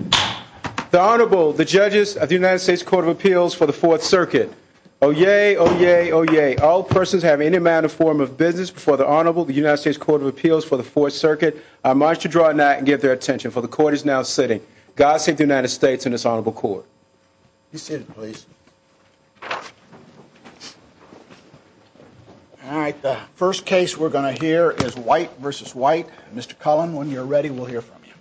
The Honorable, the Judges of the United States Court of Appeals for the Fourth Circuit. Oyez, oyez, oyez. All persons having any manner or form of business before the Honorable, the United States Court of Appeals for the Fourth Circuit, are admonished to draw a knight and give their attention, for the court is now sitting. God save the United States and this Honorable Court. Please sit, please. All right, the first case we're going to hear is White v. White. Mr. Cullen, when you're ready, we'll hear from you.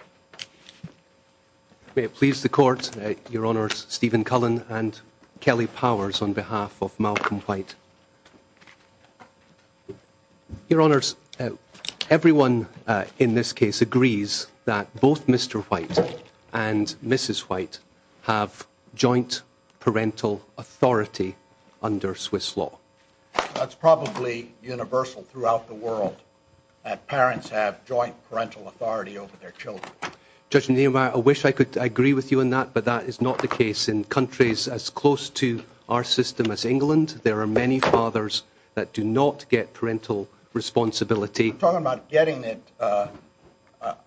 May it please the Court, Your Honors, Stephen Cullen and Kelly Powers on behalf of Malcolm White. Your Honors, everyone in this case agrees that both Mr. White and Mrs. White have joint parental authority under Swiss law. That's probably universal throughout the world, that parents have joint parental authority over their children. Judge Neal, I wish I could agree with you on that, but that is not the case. In countries as close to our system as England, there are many fathers that do not get parental responsibility. I'm talking about getting it.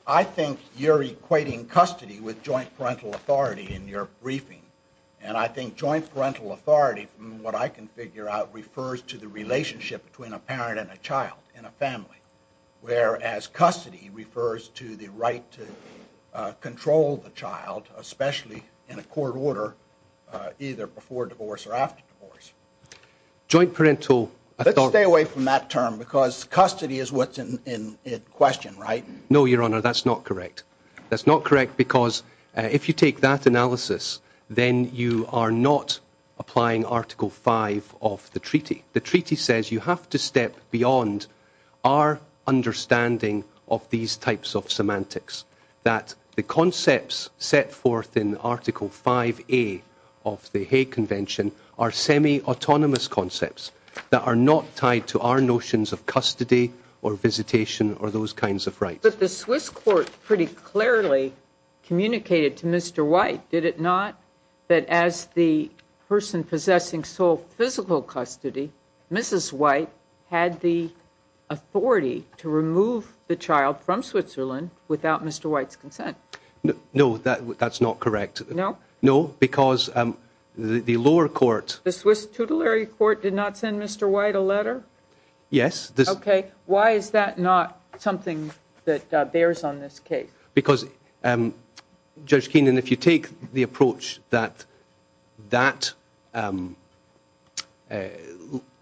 I think you're equating custody with joint parental authority in your briefing. And I think joint parental authority, from what I can figure out, refers to the relationship between a parent and a child in a family. Whereas custody refers to the right to control the child, especially in a court order, either before divorce or after divorce. Let's stay away from that term because custody is what's in question, right? No, Your Honor, that's not correct. That's not correct because if you take that analysis, then you are not applying Article 5 of the treaty. The treaty says you have to step beyond our understanding of these types of semantics, that the concepts set forth in Article 5A of the Hague Convention are semi-autonomous concepts that are not tied to our notions of custody or visitation or those kinds of rights. But the Swiss court pretty clearly communicated to Mr. White, did it not, that as the person possessing sole physical custody, Mrs. White had the authority to remove the child from Switzerland without Mr. White's consent? No, that's not correct. No? No, because the lower court... The Swiss tutelary court did not send Mr. White a letter? Yes. Okay, why is that not something that bears on this case? Because, Judge Keenan, if you take the approach that that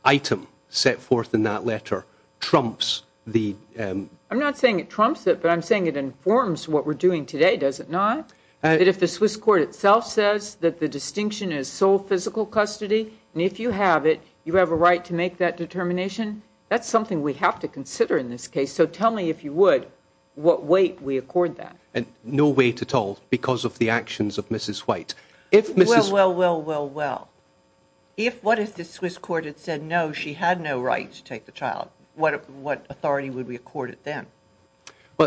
item set forth in that letter trumps the... I'm not saying it trumps it, but I'm saying it informs what we're doing today, does it not? That if the Swiss court itself says that the distinction is sole physical custody, and if you have it, you have a right to make that determination, that's something we have to consider in this case. So tell me, if you would, what weight we accord that? No weight at all, because of the actions of Mrs. White. Well, well, well, well, well. What if the Swiss court had said, no, she had no right to take the child? What authority would we accord it then?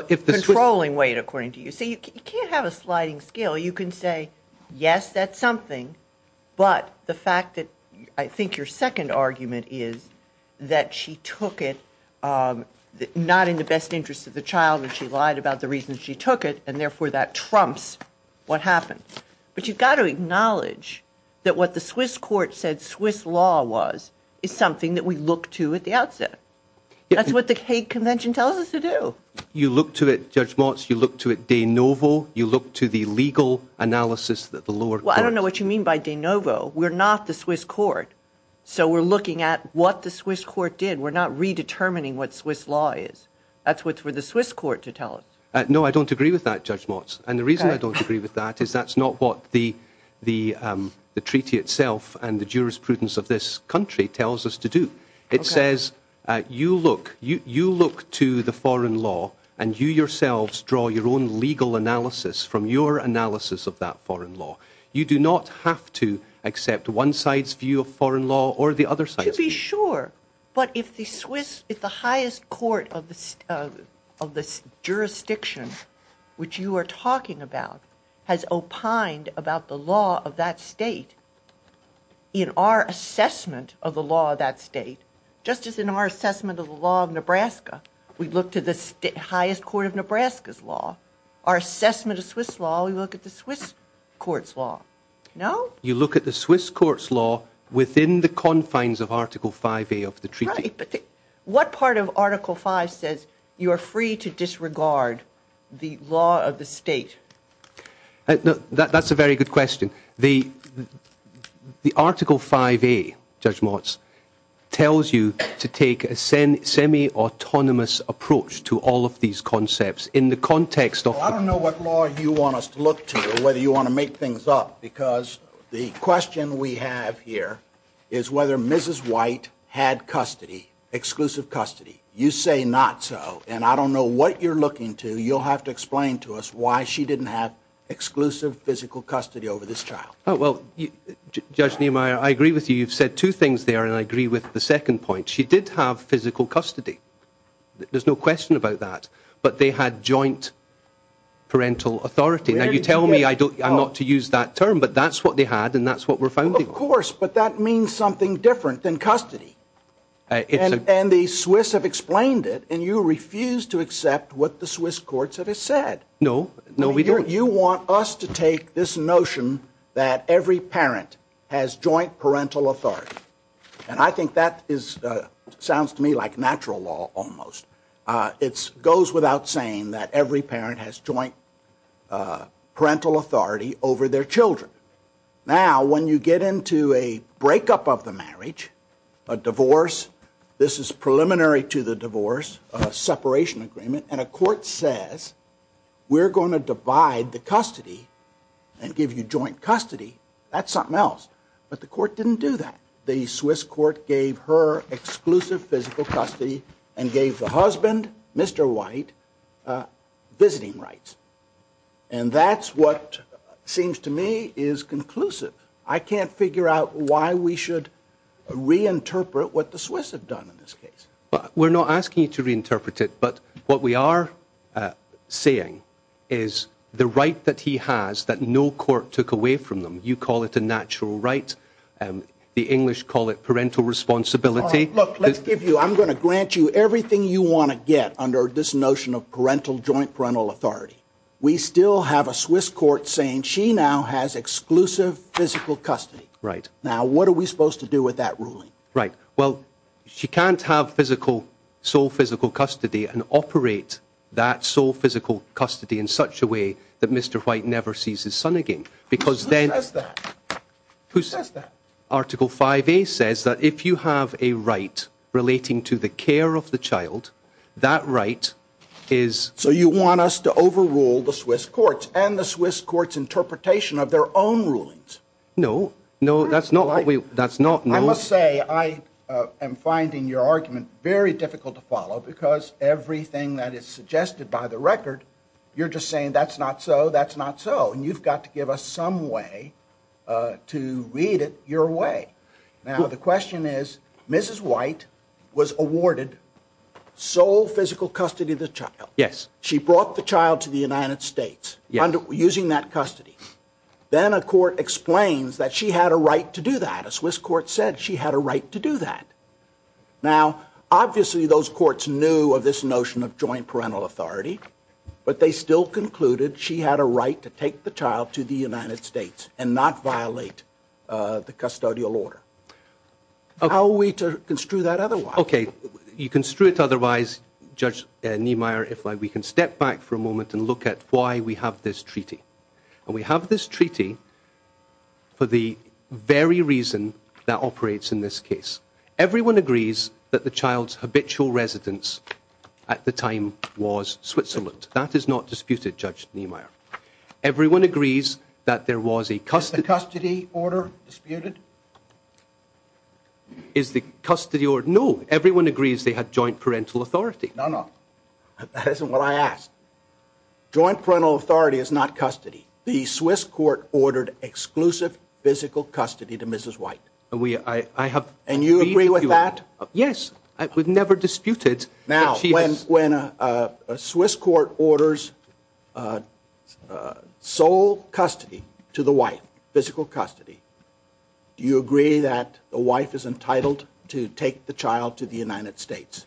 Controlling weight, according to you. See, you can't have a sliding scale. You can say, yes, that's something, but the fact that I think your second argument is that she took it not in the best interest of the child, and she lied about the reason she took it, and therefore that trumps what happened. But you've got to acknowledge that what the Swiss court said Swiss law was is something that we look to at the outset. That's what the Hague Convention tells us to do. You look to it, Judge Motz, you look to it de novo. You look to the legal analysis that the lower court. Well, I don't know what you mean by de novo. We're not the Swiss court, so we're looking at what the Swiss court did. We're not redetermining what Swiss law is. That's what the Swiss court to tell us. No, I don't agree with that, Judge Motz. And the reason I don't agree with that is that's not what the treaty itself and the jurisprudence of this country tells us to do. It says you look, you look to the foreign law and you yourselves draw your own legal analysis from your analysis of that foreign law. You do not have to accept one side's view of foreign law or the other side. To be sure. But if the Swiss if the highest court of the of this jurisdiction, which you are talking about, has opined about the law of that state. In our assessment of the law of that state, just as in our assessment of the law of Nebraska, we look to the highest court of Nebraska's law. Our assessment of Swiss law, we look at the Swiss court's law. No. You look at the Swiss court's law within the confines of Article 5A of the treaty. But what part of Article 5 says you are free to disregard the law of the state? That's a very good question. The the Article 5A, Judge Motz, tells you to take a semi-autonomous approach to all of these concepts in the context of. Well, I don't know what law you want us to look to or whether you want to make things up, because the question we have here is whether Mrs. White had custody, exclusive custody. You say not so. And I don't know what you're looking to. You'll have to explain to us why she didn't have exclusive physical custody over this child. Well, Judge Niemeyer, I agree with you. You've said two things there. And I agree with the second point. She did have physical custody. There's no question about that. But they had joint parental authority. Now, you tell me I'm not to use that term. But that's what they had. And that's what we're finding. Of course. But that means something different than custody. And the Swiss have explained it. And you refuse to accept what the Swiss courts have said. No. No, we don't. You want us to take this notion that every parent has joint parental authority. And I think that sounds to me like natural law almost. It goes without saying that every parent has joint parental authority over their children. Now, when you get into a breakup of the marriage, a divorce, this is preliminary to the divorce, a separation agreement, and a court says we're going to divide the custody and give you joint custody, that's something else. But the court didn't do that. The Swiss court gave her exclusive physical custody and gave the husband, Mr. White, visiting rights. And that's what seems to me is conclusive. I can't figure out why we should reinterpret what the Swiss have done in this case. We're not asking you to reinterpret it. But what we are saying is the right that he has that no court took away from them. You call it a natural right. The English call it parental responsibility. Look, let's give you I'm going to grant you everything you want to get under this notion of parental joint parental authority. We still have a Swiss court saying she now has exclusive physical custody. Right. Now, what are we supposed to do with that ruling? Right. Well, she can't have physical sole physical custody and operate that sole physical custody in such a way that Mr. White never sees his son again because then who says that? Article 5 says that if you have a right relating to the care of the child, that right is. So you want us to overrule the Swiss courts and the Swiss courts interpretation of their own rulings? No, no, that's not what we that's not. I must say, I am finding your argument very difficult to follow because everything that is suggested by the record, you're just saying that's not so. That's not so. And you've got to give us some way to read it your way. Now, the question is, Mrs. White was awarded sole physical custody of the child. Yes. She brought the child to the United States using that custody. Then a court explains that she had a right to do that. A Swiss court said she had a right to do that. Now, obviously, those courts knew of this notion of joint parental authority, but they still concluded she had a right to take the child to the United States and not violate the custodial order. How are we to construe that otherwise? OK, you can screw it. Otherwise, Judge Niemeyer, if we can step back for a moment and look at why we have this treaty and we have this treaty. For the very reason that operates in this case, everyone agrees that the child's habitual residence at the time was Switzerland. That is not disputed, Judge Niemeyer. Everyone agrees that there was a custody. Is the custody order disputed? Is the custody order? No. Everyone agrees they had joint parental authority. No, no. That isn't what I asked. Joint parental authority is not custody. The Swiss court ordered exclusive physical custody to Mrs. White. And you agree with that? Yes. We've never disputed. Now, when a Swiss court orders sole custody to the wife, physical custody, do you agree that the wife is entitled to take the child to the United States?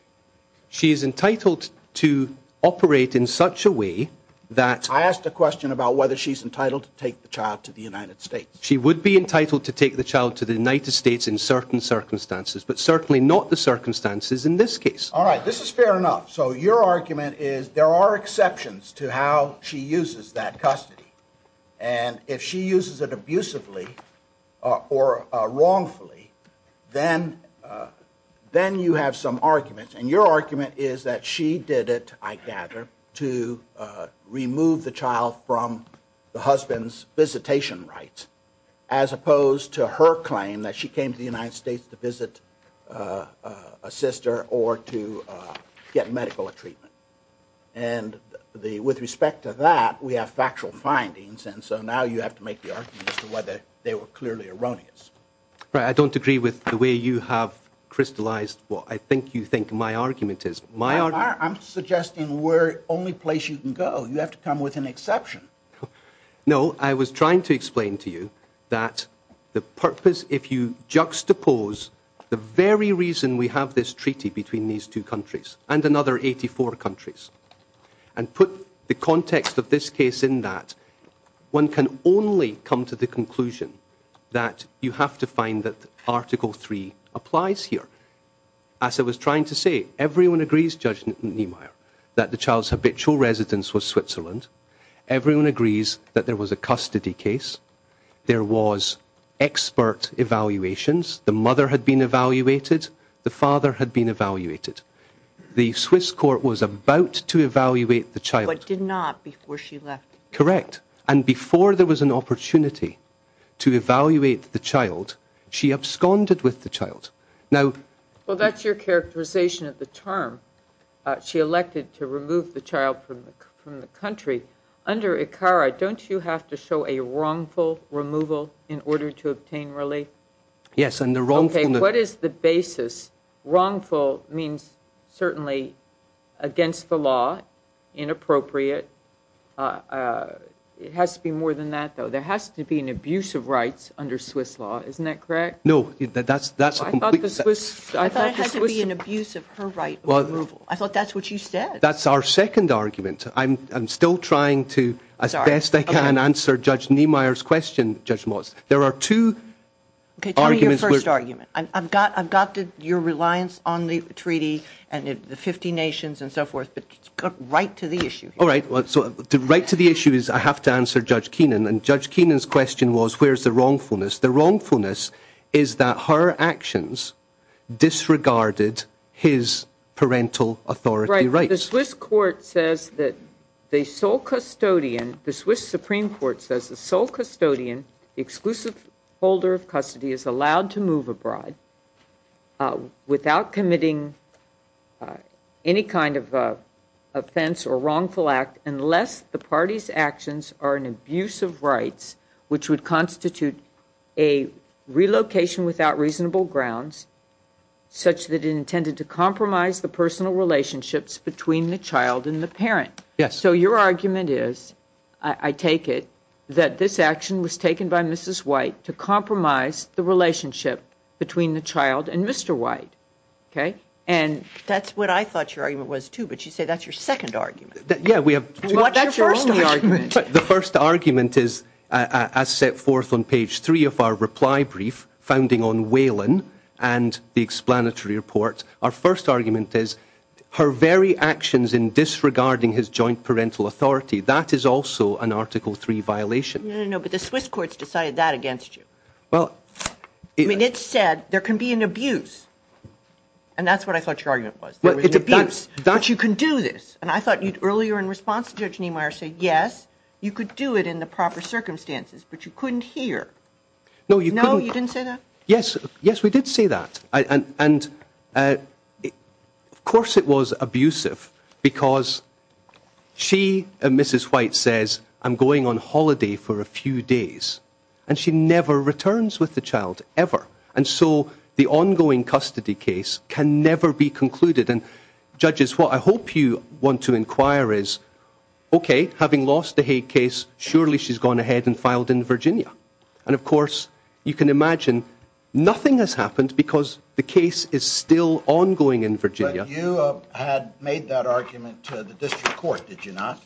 She is entitled to operate in such a way that. I asked a question about whether she's entitled to take the child to the United States. She would be entitled to take the child to the United States in certain circumstances, but certainly not the circumstances in this case. All right. This is fair enough. So your argument is there are exceptions to how she uses that custody. And if she uses it abusively or wrongfully, then you have some arguments. And your argument is that she did it, I gather, to remove the child from the husband's visitation rights, as opposed to her claim that she came to the United States to visit a sister or to get medical treatment. And with respect to that, we have factual findings. And so now you have to make the argument as to whether they were clearly erroneous. Right. I don't agree with the way you have crystallized what I think you think my argument is. I'm suggesting we're the only place you can go. You have to come with an exception. No. I was trying to explain to you that the purpose, if you juxtapose the very reason we have this treaty between these two countries and another 84 countries, and put the context of this case in that, one can only come to the conclusion that you have to find that Article 3 applies here. As I was trying to say, everyone agrees, Judge Niemeyer, that the child's habitual residence was Switzerland. Everyone agrees that there was a custody case. There was expert evaluations. The mother had been evaluated. The father had been evaluated. The Swiss court was about to evaluate the child. But did not before she left. Correct. And before there was an opportunity to evaluate the child, she absconded with the child. Now... Well, that's your characterization of the term. She elected to remove the child from the country. Under ICARA, don't you have to show a wrongful removal in order to obtain relief? Okay, what is the basis? Wrongful means certainly against the law, inappropriate. It has to be more than that, though. There has to be an abuse of rights under Swiss law. Isn't that correct? No, that's a complete... I thought it had to be an abuse of her right of removal. I thought that's what you said. That's our second argument. I'm still trying to, as best I can, answer Judge Niemeyer's question, Judge Moss. There are two arguments... Okay, tell me your first argument. I've got your reliance on the treaty and the 50 nations and so forth, but get right to the issue. All right. So, right to the issue is I have to answer Judge Keenan. And Judge Keenan's question was, where's the wrongfulness? The wrongfulness is that her actions disregarded his parental authority rights. Right. The Swiss court says that the sole custodian, the Swiss Supreme Court says the sole custodian, the exclusive holder of custody is allowed to move abroad without committing any kind of offense or wrongful act unless the party's actions are an abuse of rights which would constitute a relocation without reasonable grounds such that it intended to compromise the personal relationships between the child and the parent. Yes. So your argument is, I take it, that this action was taken by Mrs. White to compromise the relationship between the child and Mr. White. Okay? That's what I thought your argument was too, but you say that's your second argument. Yeah, we have... Well, that's your only argument. The first argument is, as set forth on page three of our reply brief, founding on Whelan and the explanatory report, our first argument is, her very actions in disregarding his joint parental authority, that is also an article three violation. No, no, no, but the Swiss courts decided that against you. Well... I mean, it said there can be an abuse, and that's what I thought your argument was. Well, it's abuse. That you can do this, and I thought earlier in response to Judge Niemeyer said, yes, you could do it in the proper circumstances, but you couldn't here. No, you couldn't... No, you didn't say that? Yes, yes, we did say that, and of course it was abusive, because she, Mrs. White, says, I'm going on holiday for a few days, and she never returns with the child, ever. And so the ongoing custody case can never be concluded, and judges, what I hope you want to inquire is, okay, having lost the Haig case, surely she's gone ahead and filed in Virginia. And of course, you can imagine, nothing has happened, because the case is still ongoing in Virginia. But you had made that argument to the district court, did you not?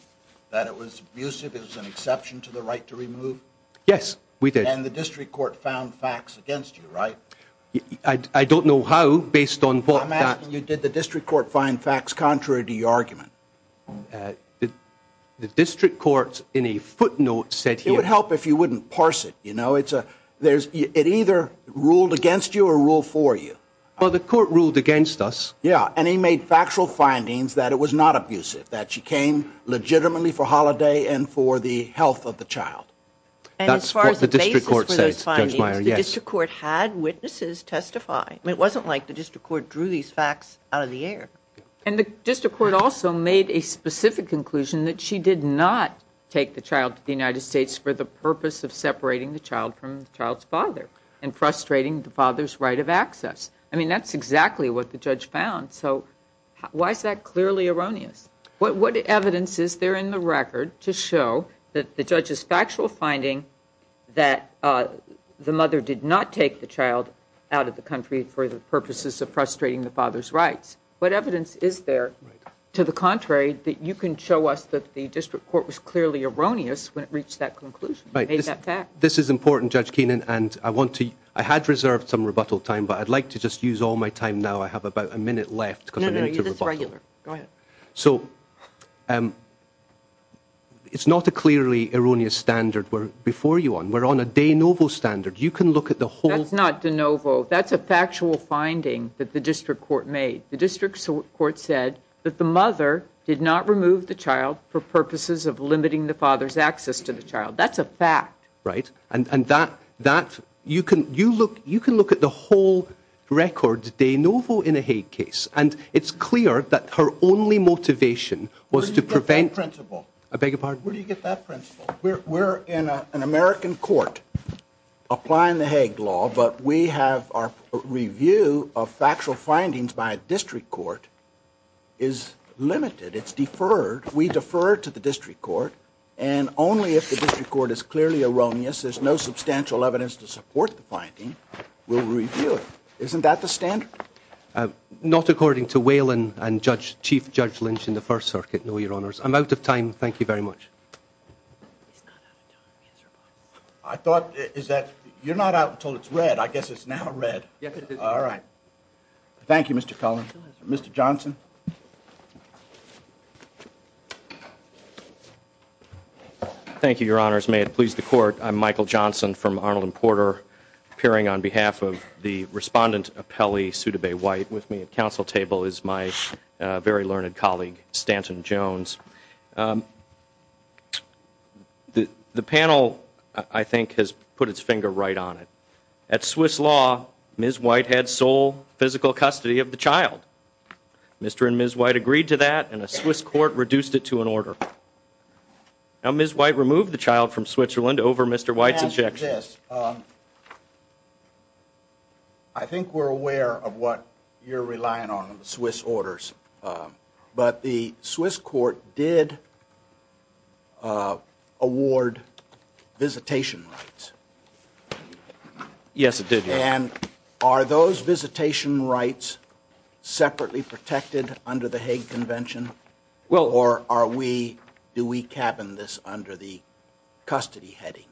That it was abusive, it was an exception to the right to remove? Yes, we did. And the district court found facts against you, right? I don't know how, based on what that... I'm asking you, did the district court find facts contrary to your argument? The district court, in a footnote, said here... It would help if you wouldn't parse it, you know, it either ruled against you or ruled for you. Well, the court ruled against us. Yeah, and he made factual findings that it was not abusive, that she came legitimately for holiday and for the health of the child. And as far as the basis for those findings, the district court had witnesses testify. It wasn't like the district court drew these facts out of the air. And the district court also made a specific conclusion that she did not take the child to the United States for the purpose of separating the child from the child's father, and frustrating the father's right of access. I mean, that's exactly what the judge found, so why is that clearly erroneous? What evidence is there in the record to show that the judge's factual finding that the mother did not take the child out of the country for the purposes of frustrating the father's rights? What evidence is there, to the contrary, that you can show us that the district court was clearly erroneous when it reached that conclusion? This is important, Judge Keenan, and I want to... I had reserved some rebuttal time, but I'd like to just use all my time now. I have about a minute left. No, no, you're this regular. Go ahead. So, it's not a clearly erroneous standard we're before you on. We're on a de novo standard. You can look at the whole... That's not de novo. That's a factual finding that the district court made. The district court said that the mother did not remove the child for purposes of limiting the father's access to the child. That's a fact. Right, and that... you can look at the whole record de novo in a Hague case, and it's clear that her only motivation was to prevent... Where do you get that principle? I beg your pardon? We're in an American court applying the Hague law, but we have our review of factual findings by a district court is limited. It's deferred. We defer to the district court, and only if the district court is clearly erroneous, there's no substantial evidence to support the finding, we'll review it. Isn't that the standard? Not according to Waylon and Chief Judge Lynch in the First Circuit, no, your honors. I'm out of time. Thank you very much. I thought... is that... you're not out until it's red. I guess it's now red. All right. Thank you, Mr. Cullen. Mr. Johnson? Thank you, your honors. May it please the court, I'm Michael Johnson from Arnold and Porter, appearing on behalf of the respondent appellee, Sudebay White. With me at council table is my very learned colleague, Stanton Jones. The panel, I think, has put its finger right on it. At Swiss law, Ms. White had sole physical custody of the child. Mr. and Ms. White agreed to that, and the Swiss court reduced it to an order. Now, Ms. White removed the child from Switzerland over Mr. White's objection. I think we're aware of what you're relying on in the Swiss orders. But the Swiss court did award visitation rights. Yes, it did, your honor. And are those visitation rights separately protected under the Hague Convention? Or are we... do we cabin this under the custody heading?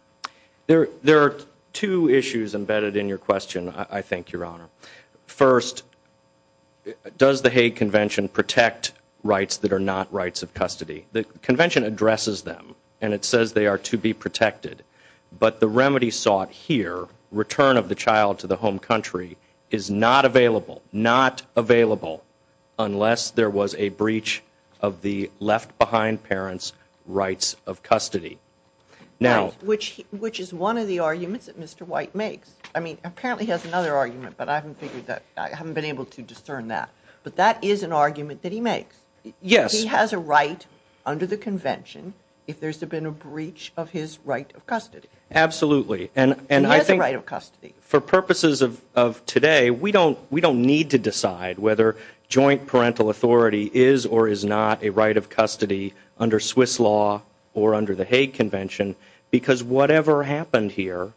There are two issues embedded in your question, I think, your honor. First, does the Hague Convention protect rights that are not rights of custody? The convention addresses them, and it says they are to be protected. But the remedy sought here, return of the child to the home country, is not available. Not available unless there was a breach of the left-behind parent's rights of custody. Which is one of the arguments that Mr. White makes. I mean, apparently he has another argument, but I haven't been able to discern that. But that is an argument that he makes. Yes. He has a right under the convention if there's been a breach of his right of custody. Absolutely. He has a right of custody. For purposes of today, we don't need to decide whether joint parental authority is or is not a right of custody under Swiss law or under the Hague Convention. Because whatever happened here,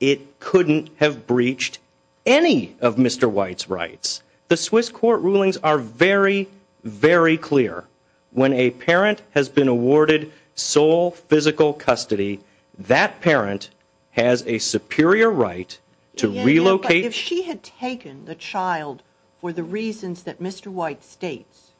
it couldn't have breached any of Mr. White's rights. The Swiss court rulings are very, very clear. When a parent has been awarded sole physical custody, that parent has a superior right to relocate... If she had taken the child for the reasons that Mr. White states,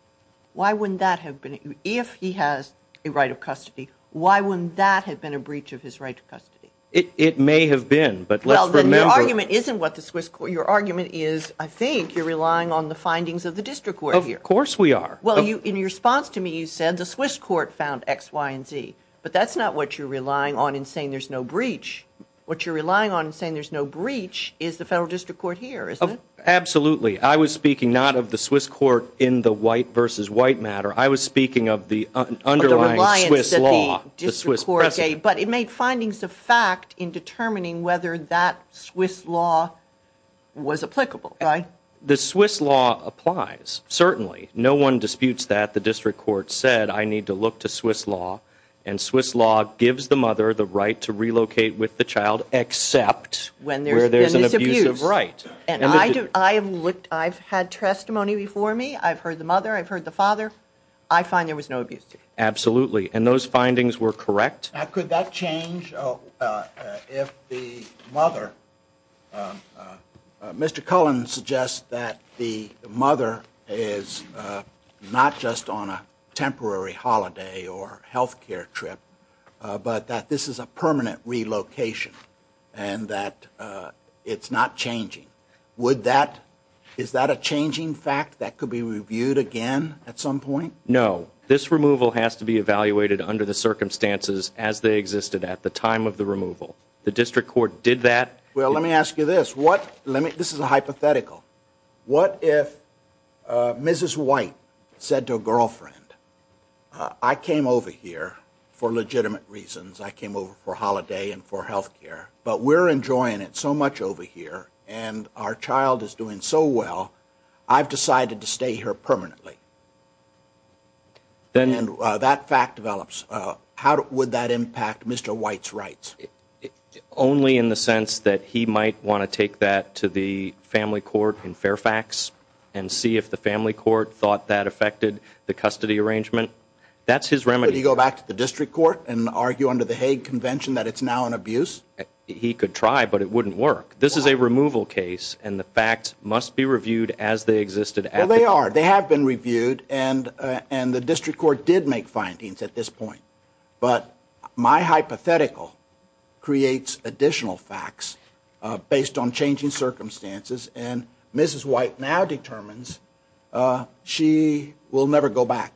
why wouldn't that have been... If he has a right of custody, why wouldn't that have been a breach of his right of custody? It may have been, but let's remember... Your argument is, I think, you're relying on the findings of the district court here. Of course we are. In your response to me, you said the Swiss court found X, Y, and Z. But that's not what you're relying on in saying there's no breach. What you're relying on in saying there's no breach is the federal district court here, isn't it? Absolutely. I was speaking not of the Swiss court in the White v. White matter. I was speaking of the underlying Swiss law, the Swiss precedent. But it made findings of fact in determining whether that Swiss law was applicable, right? The Swiss law applies, certainly. No one disputes that. The district court said, I need to look to Swiss law. And Swiss law gives the mother the right to relocate with the child, except where there's an abusive right. I've had testimony before me. I've heard the mother. I've heard the father. I find there was no abuse. Absolutely. And those findings were correct? Could that change if the mother, Mr. Cullen suggests that the mother is not just on a temporary holiday or health care trip, but that this is a permanent relocation and that it's not changing. Would that, is that a changing fact that could be reviewed again at some point? No. This removal has to be evaluated under the circumstances as they existed at the time of the removal. The district court did that. Well, let me ask you this. This is a hypothetical. What if Mrs. White said to a girlfriend, I came over here for legitimate reasons. I came over for holiday and for health care. But we're enjoying it so much over here. And our child is doing so well, I've decided to stay here permanently. And that fact develops. How would that impact Mr. White's rights? Only in the sense that he might want to take that to the family court in Fairfax and see if the family court thought that affected the custody arrangement. That's his remedy. Would he go back to the district court and argue under the Hague Convention that it's now an abuse? He could try, but it wouldn't work. This is a removal case, and the facts must be reviewed as they existed at the time. Well, they are. They have been reviewed, and the district court did make findings at this point. But my hypothetical creates additional facts based on changing circumstances, and Mrs. White now determines she will never go back.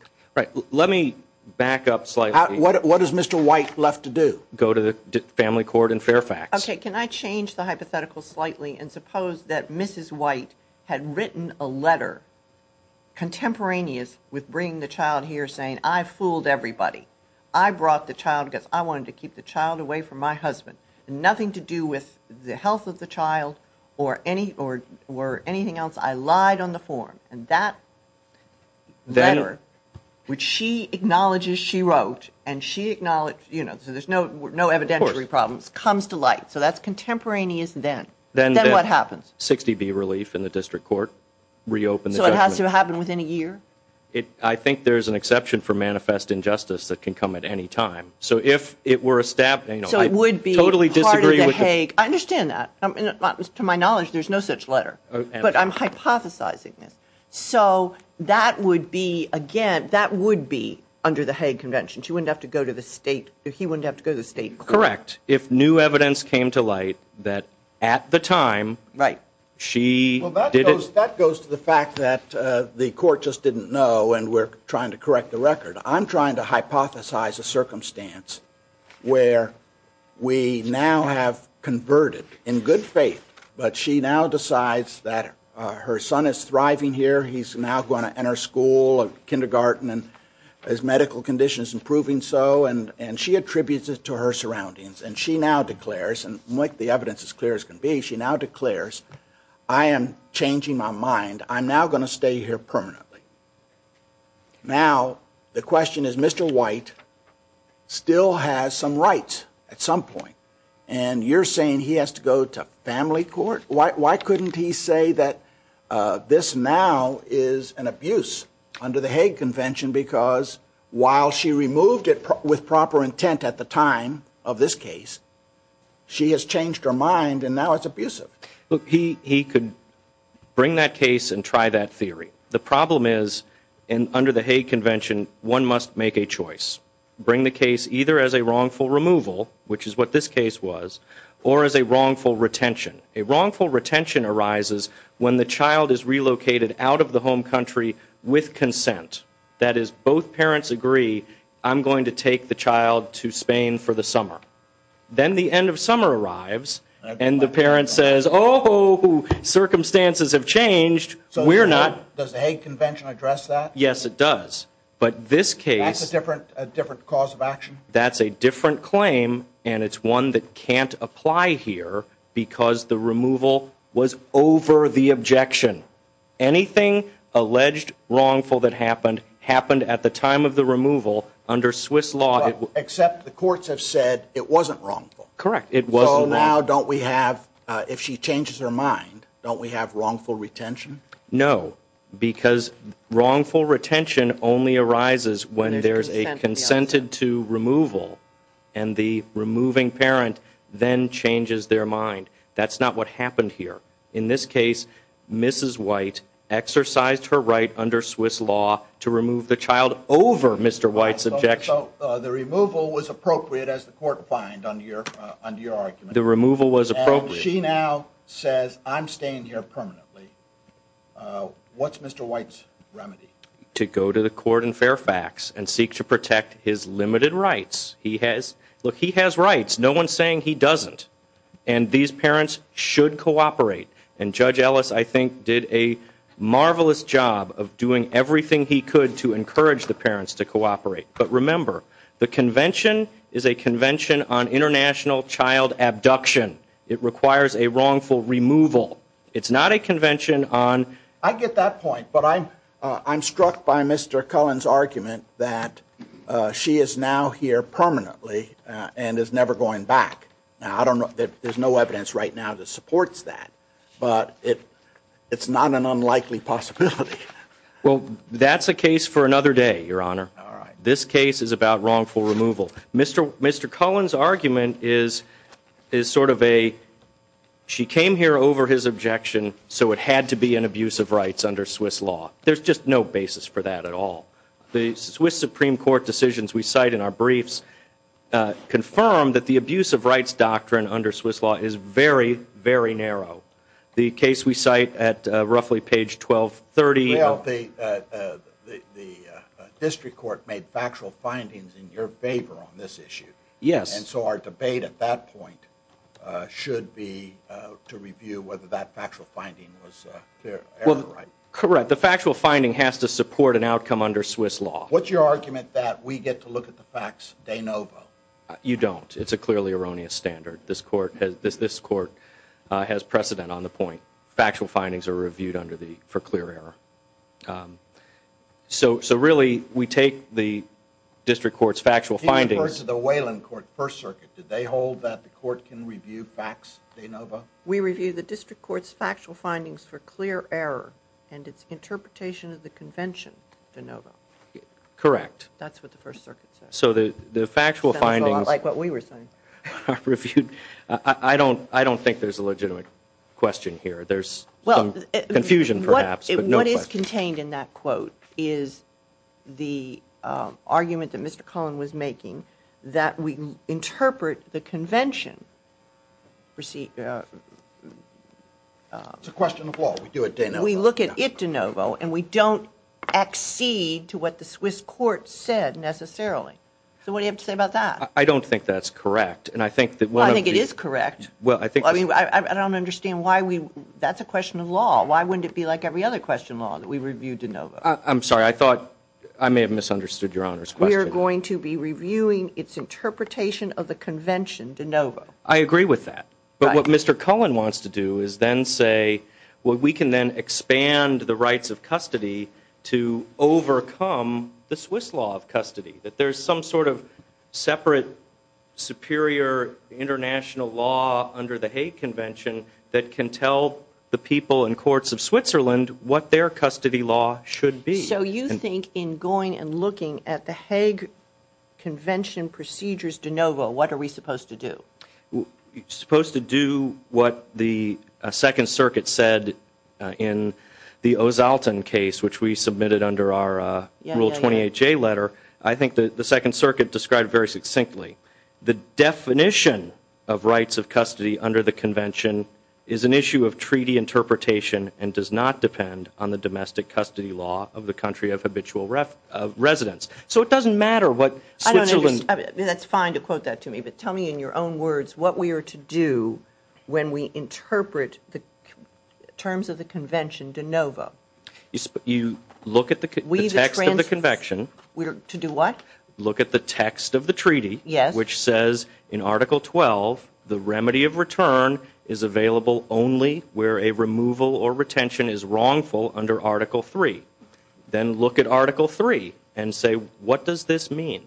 Let me back up slightly. What is Mr. White left to do? Go to the family court in Fairfax. Okay, can I change the hypothetical slightly and suppose that Mrs. White had written a letter contemporaneous with bringing the child here saying, I fooled everybody. I brought the child because I wanted to keep the child away from my husband. Nothing to do with the health of the child or anything else. I lied on the form. And that letter, which she acknowledges she wrote, so there's no evidentiary problems, comes to light. So that's contemporaneous then. Then what happens? 60B relief in the district court, reopen the judgment. So it has to happen within a year? I think there's an exception for manifest injustice that can come at any time. So it would be part of the Hague. I understand that. To my knowledge, there's no such letter. But I'm hypothesizing this. So that would be, again, that would be under the Hague Convention. She wouldn't have to go to the state. He wouldn't have to go to the state court. Correct. If new evidence came to light that at the time she did it. Well, that goes to the fact that the court just didn't know and we're trying to correct the record. I'm trying to hypothesize a circumstance where we now have converted in good faith, but she now decides that her son is thriving here. He's now going to enter school and kindergarten and his medical condition is improving so. And she attributes it to her surroundings. And she now declares, and I'm going to make the evidence as clear as can be, she now declares, I am changing my mind. I'm now going to stay here permanently. Now the question is Mr. White still has some rights at some point. And you're saying he has to go to family court? Why couldn't he say that this now is an abuse under the Hague Convention because while she removed it with proper intent at the time of this case, she has changed her mind and now it's abusive. Look, he could bring that case and try that theory. The problem is under the Hague Convention one must make a choice, bring the case either as a wrongful removal, which is what this case was, or as a wrongful retention. A wrongful retention arises when the child is relocated out of the home country with consent. That is both parents agree I'm going to take the child to Spain for the summer. Then the end of summer arrives and the parent says, oh, circumstances have changed. So we're not. Does the Hague Convention address that? Yes, it does. But this case. That's a different cause of action? That's a different claim, and it's one that can't apply here because the removal was over the objection. Anything alleged wrongful that happened happened at the time of the removal under Swiss law. Except the courts have said it wasn't wrongful. Correct, it wasn't wrongful. So now don't we have, if she changes her mind, don't we have wrongful retention? No, because wrongful retention only arises when there's a consented to removal and the removing parent then changes their mind. That's not what happened here. In this case, Mrs. White exercised her right under Swiss law to remove the child over Mr. White's objection. So the removal was appropriate, as the court fined under your argument. The removal was appropriate. When she now says, I'm staying here permanently, what's Mr. White's remedy? To go to the court in Fairfax and seek to protect his limited rights. Look, he has rights. No one's saying he doesn't. And these parents should cooperate. And Judge Ellis, I think, did a marvelous job of doing everything he could to encourage the parents to cooperate. But remember, the convention is a convention on international child abduction. It requires a wrongful removal. It's not a convention on- I get that point. But I'm struck by Mr. Cullen's argument that she is now here permanently and is never going back. Now, there's no evidence right now that supports that. But it's not an unlikely possibility. Well, that's a case for another day, Your Honor. This case is about wrongful removal. Mr. Cullen's argument is sort of a, she came here over his objection, so it had to be an abuse of rights under Swiss law. There's just no basis for that at all. The Swiss Supreme Court decisions we cite in our briefs confirm that the abuse of rights doctrine under Swiss law is very, very narrow. The case we cite at roughly page 1230- The district court made factual findings in your favor on this issue. Yes. And so our debate at that point should be to review whether that factual finding was error right. Correct. The factual finding has to support an outcome under Swiss law. What's your argument that we get to look at the facts de novo? You don't. It's a clearly erroneous standard. This court has precedent on the point. Factual findings are reviewed for clear error. So really, we take the district court's factual findings- Do you refer to the Wayland court, First Circuit? Did they hold that the court can review facts de novo? We review the district court's factual findings for clear error and its interpretation of the convention de novo. Correct. That's what the First Circuit said. So the factual findings- Sounds a lot like what we were saying. I don't think there's a legitimate question here. There's some confusion perhaps, but no question. What is contained in that quote is the argument that Mr. Cullen was making that we interpret the convention- It's a question of law. We do it de novo. We look at it de novo and we don't accede to what the Swiss court said necessarily. So what do you have to say about that? I don't think that's correct. I think it is correct. Well, I think- I don't understand why we- that's a question of law. Why wouldn't it be like every other question of law that we review de novo? I'm sorry. I thought I may have misunderstood Your Honor's question. We are going to be reviewing its interpretation of the convention de novo. I agree with that. But what Mr. Cullen wants to do is then say, well, we can then expand the rights of custody to overcome the Swiss law of custody. That there's some sort of separate, superior, international law under the Hague Convention that can tell the people in courts of Switzerland what their custody law should be. So you think in going and looking at the Hague Convention procedures de novo, what are we supposed to do? Supposed to do what the Second Circuit said in the O'Zalton case, which we submitted under our Rule 28J letter. I think the Second Circuit described it very succinctly. The definition of rights of custody under the convention is an issue of treaty interpretation and does not depend on the domestic custody law of the country of habitual residence. So it doesn't matter what Switzerland- That's fine to quote that to me. But tell me in your own words what we are to do when we interpret the terms of the convention de novo. You look at the text of the convention. To do what? Look at the text of the treaty, which says in Article 12, the remedy of return is available only where a removal or retention is wrongful under Article 3. Then look at Article 3 and say, what does this mean?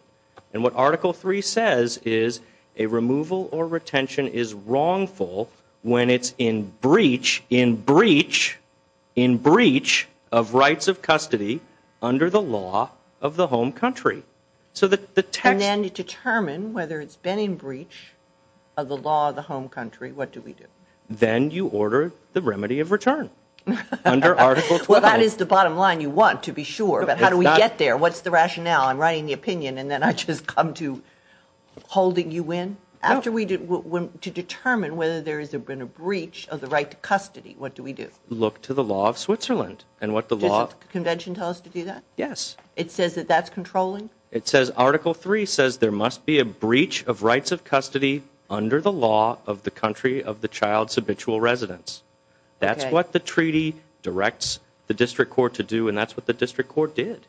And what Article 3 says is a removal or retention is wrongful when it's in breach, in breach, in breach of rights of custody under the law of the home country. And then determine whether it's been in breach of the law of the home country. What do we do? Then you order the remedy of return under Article 12. Well, that is the bottom line you want to be sure. But how do we get there? What's the rationale? I'm writing the opinion and then I just come to holding you in? To determine whether there has been a breach of the right to custody, what do we do? Look to the law of Switzerland. Does the convention tell us to do that? Yes. It says that that's controlling? It says Article 3 says there must be a breach of rights of custody under the law of the country of the child's habitual residence. That's what the treaty directs the district court to do and that's what the district court did.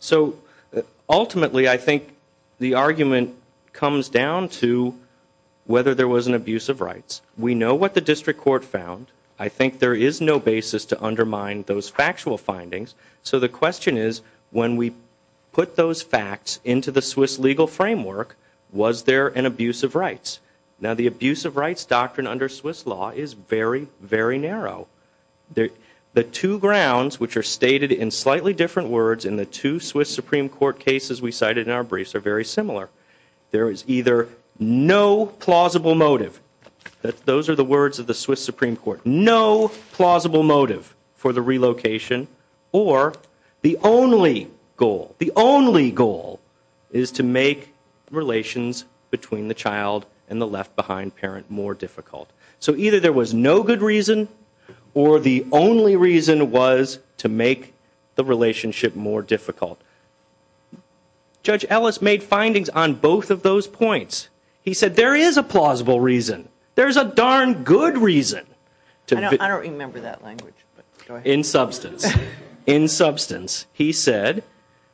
So ultimately I think the argument comes down to whether there was an abuse of rights. We know what the district court found. I think there is no basis to undermine those factual findings. So the question is when we put those facts into the Swiss legal framework, was there an abuse of rights? Now the abuse of rights doctrine under Swiss law is very, very narrow. The two grounds which are stated in slightly different words in the two Swiss Supreme Court cases we cited in our briefs are very similar. There is either no plausible motive, those are the words of the Swiss Supreme Court, no plausible motive for the relocation or the only goal, the only goal is to make relations between the child and the left behind parent more difficult. So either there was no good reason or the only reason was to make the relationship more difficult. Judge Ellis made findings on both of those points. He said there is a plausible reason. There is a darn good reason. I don't remember that language. In substance. In substance. He said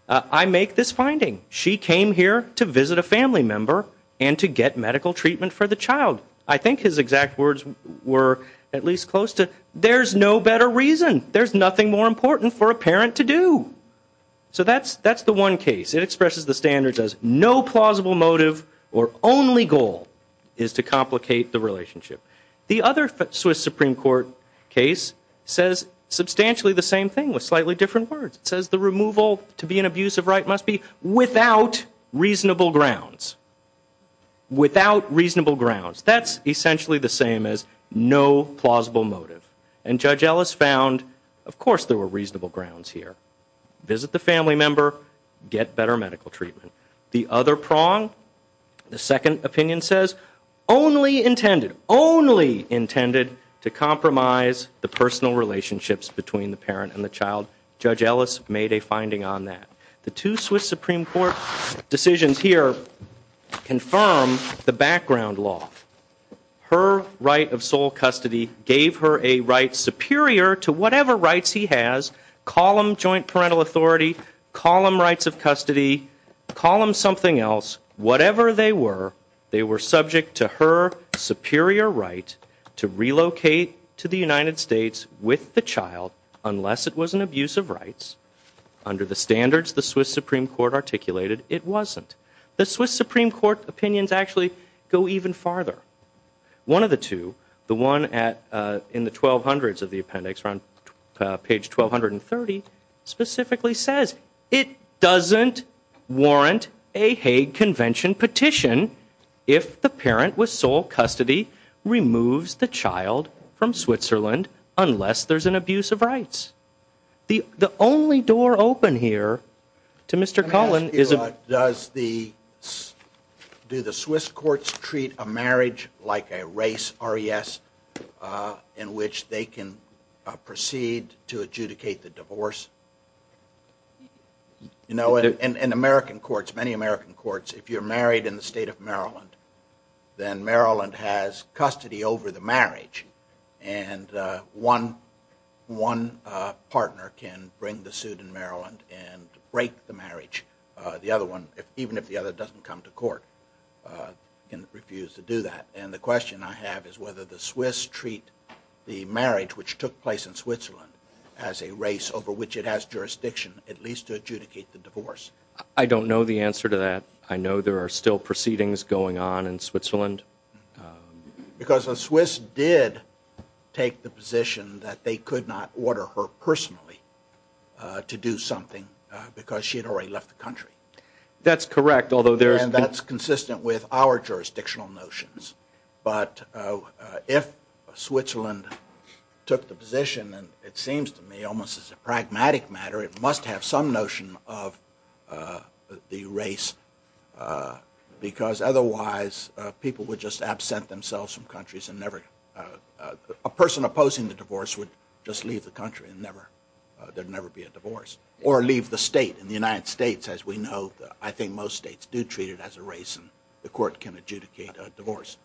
I make this finding. She came here to visit a family member and to get medical treatment for the child. I think his exact words were at least close to there's no better reason. There's nothing more important for a parent to do. So that's the one case. It expresses the standards as no plausible motive or only goal is to complicate the relationship. The other Swiss Supreme Court case says substantially the same thing with slightly different words. It says the removal to be an abuse of right must be without reasonable grounds. Without reasonable grounds. That's essentially the same as no plausible motive. And Judge Ellis found of course there were reasonable grounds here. Visit the family member, get better medical treatment. The other prong, the second opinion says only intended, only intended to compromise the personal relationships between the parent and the child. Judge Ellis made a finding on that. The two Swiss Supreme Court decisions here confirm the background law. Her right of sole custody gave her a right superior to whatever rights he has. Call them joint parental authority. Call them rights of custody. Call them something else. Whatever they were, they were subject to her superior right to relocate to the United States with the child unless it was an abuse of rights. Under the standards the Swiss Supreme Court articulated, it wasn't. The Swiss Supreme Court opinions actually go even farther. One of the two, the one in the 1200s of the appendix, page 1230, specifically says it doesn't warrant a Hague Convention petition if the parent with sole custody removes the child from Switzerland unless there's an abuse of rights. The only door open here to Mr. Cullen is a... Let me ask you, does the, do the Swiss courts treat a marriage like a race, R-E-S, in which they can proceed to adjudicate the divorce? You know, in American courts, many American courts, if you're married in the state of Maryland, then Maryland has custody over the marriage, and one partner can bring the suit in Maryland and break the marriage. The other one, even if the other doesn't come to court, can refuse to do that. And the question I have is whether the Swiss treat the marriage which took place in Switzerland as a race over which it has jurisdiction, at least to adjudicate the divorce. I don't know the answer to that. I know there are still proceedings going on in Switzerland. Because the Swiss did take the position that they could not order her personally to do something because she had already left the country. That's correct, although there's... And that's consistent with our jurisdictional notions. But if Switzerland took the position, and it seems to me almost as a pragmatic matter, it must have some notion of the race because otherwise people would just absent themselves from countries and never... A person opposing the divorce would just leave the country and never... There'd never be a divorce. Or leave the state. In the United States, as we know, I think most states do treat it as a race, and the court can adjudicate a divorce.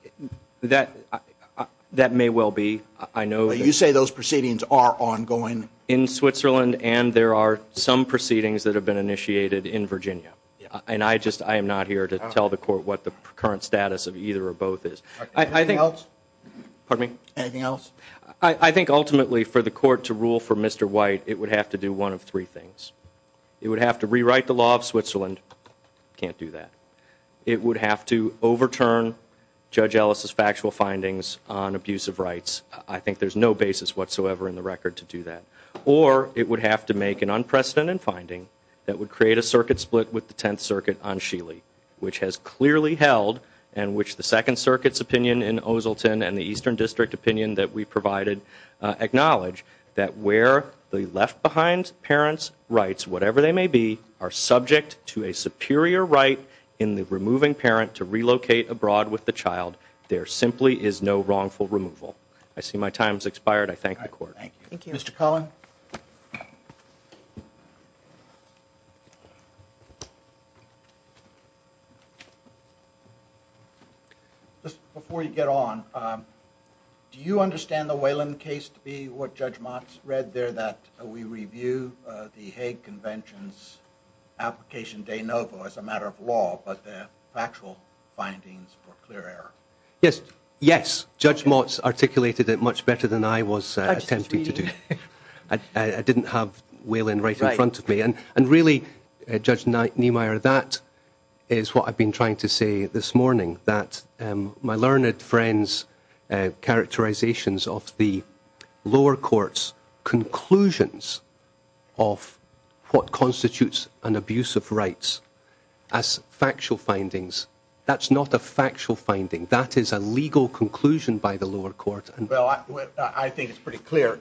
That may well be. I know that... You say those proceedings are ongoing? In Switzerland, and there are some proceedings that have been initiated in Virginia. And I just am not here to tell the court what the current status of either or both is. Anything else? Pardon me? Anything else? I think ultimately for the court to rule for Mr. White, it would have to do one of three things. It would have to rewrite the law of Switzerland. Can't do that. It would have to overturn Judge Ellis' factual findings on abusive rights. I think there's no basis whatsoever in the record to do that. Or it would have to make an unprecedented finding that would create a circuit split with the Tenth Circuit on Sheely, which has clearly held, and which the Second Circuit's opinion in Oselton and the Eastern District opinion that we provided acknowledge, that where the left-behind parents' rights, whatever they may be, are subject to a superior right in the removing parent to relocate abroad with the child, there simply is no wrongful removal. I see my time has expired. I thank the court. Thank you. Mr. Cullen? Just before you get on, do you understand the Wayland case to be what Judge Motz read there, that we review the Hague Convention's application de novo as a matter of law, but the factual findings were clear error? Yes. Yes. Judge Motz articulated it much better than I was attempting to do. I didn't have Wayland right in front of me. And really, Judge Niemeyer, that is what I've been trying to say this morning, that my learned friend's characterizations of the lower court's conclusions of what constitutes an abuse of rights as factual findings, that's not a factual finding. That is a legal conclusion by the lower court. Well, I think it's pretty clear.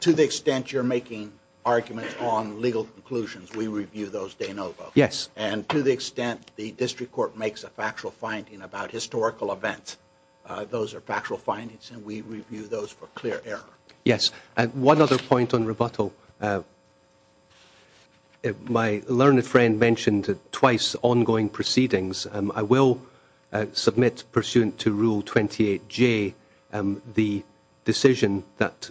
To the extent you're making arguments on legal conclusions, we review those de novo. Yes. And to the extent the district court makes a factual finding about historical events, those are factual findings, and we review those for clear error. Yes. One other point on rebuttal. My learned friend mentioned twice ongoing proceedings. I will submit pursuant to Rule 28J the decision that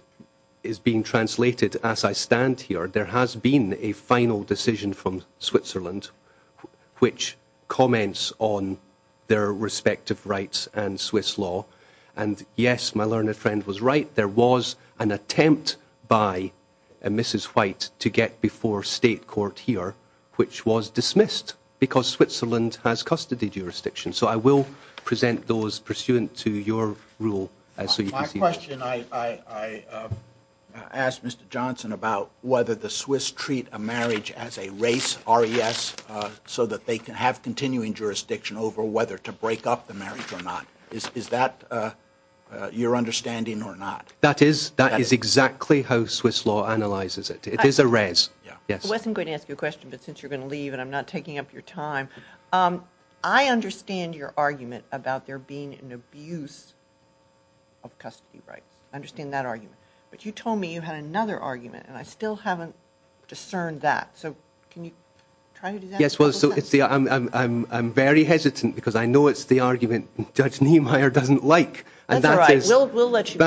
is being translated as I stand here. There has been a final decision from Switzerland which comments on their respective rights and Swiss law. And, yes, my learned friend was right. There was an attempt by Mrs. White to get before state court here, which was dismissed because Switzerland has custody jurisdiction. So I will present those pursuant to your rule. My question, I asked Mr. Johnson about whether the Swiss treat a marriage as a race, RES, so that they can have continuing jurisdiction over whether to break up the marriage or not. Is that your understanding or not? That is. That is exactly how Swiss law analyzes it. It is a RES. Yes. I wasn't going to ask you a question, but since you're going to leave and I'm not taking up your time, I understand your argument about there being an abuse of custody rights. I understand that argument. But you told me you had another argument, and I still haven't discerned that. So can you try to do that? Yes, well, I'm very hesitant because I know it's the argument Judge Niemeyer doesn't like. That's all right. We'll let you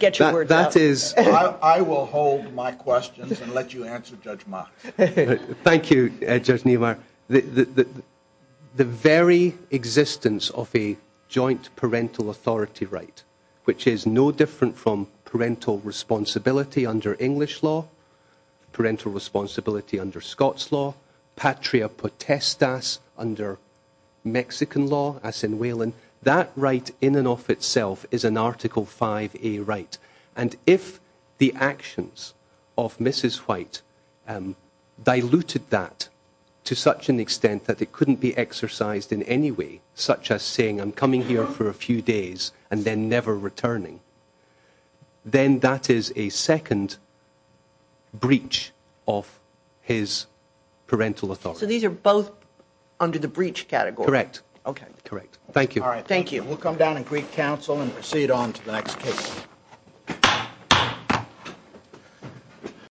get your words out. I will hold my questions and let you answer, Judge Ma. Thank you, Judge Niemeyer. The very existence of a joint parental authority right, which is no different from parental responsibility under English law, parental responsibility under Scots law, patria potestas under Mexican law, as in Whelan, that right in and of itself is an Article 5A right. And if the actions of Mrs. White diluted that to such an extent that it couldn't be exercised in any way, such as saying, I'm coming here for a few days and then never returning, then that is a second breach of his parental authority. So these are both under the breach category? Thank you. All right, thank you. We'll come down and greet counsel and proceed on to the next case.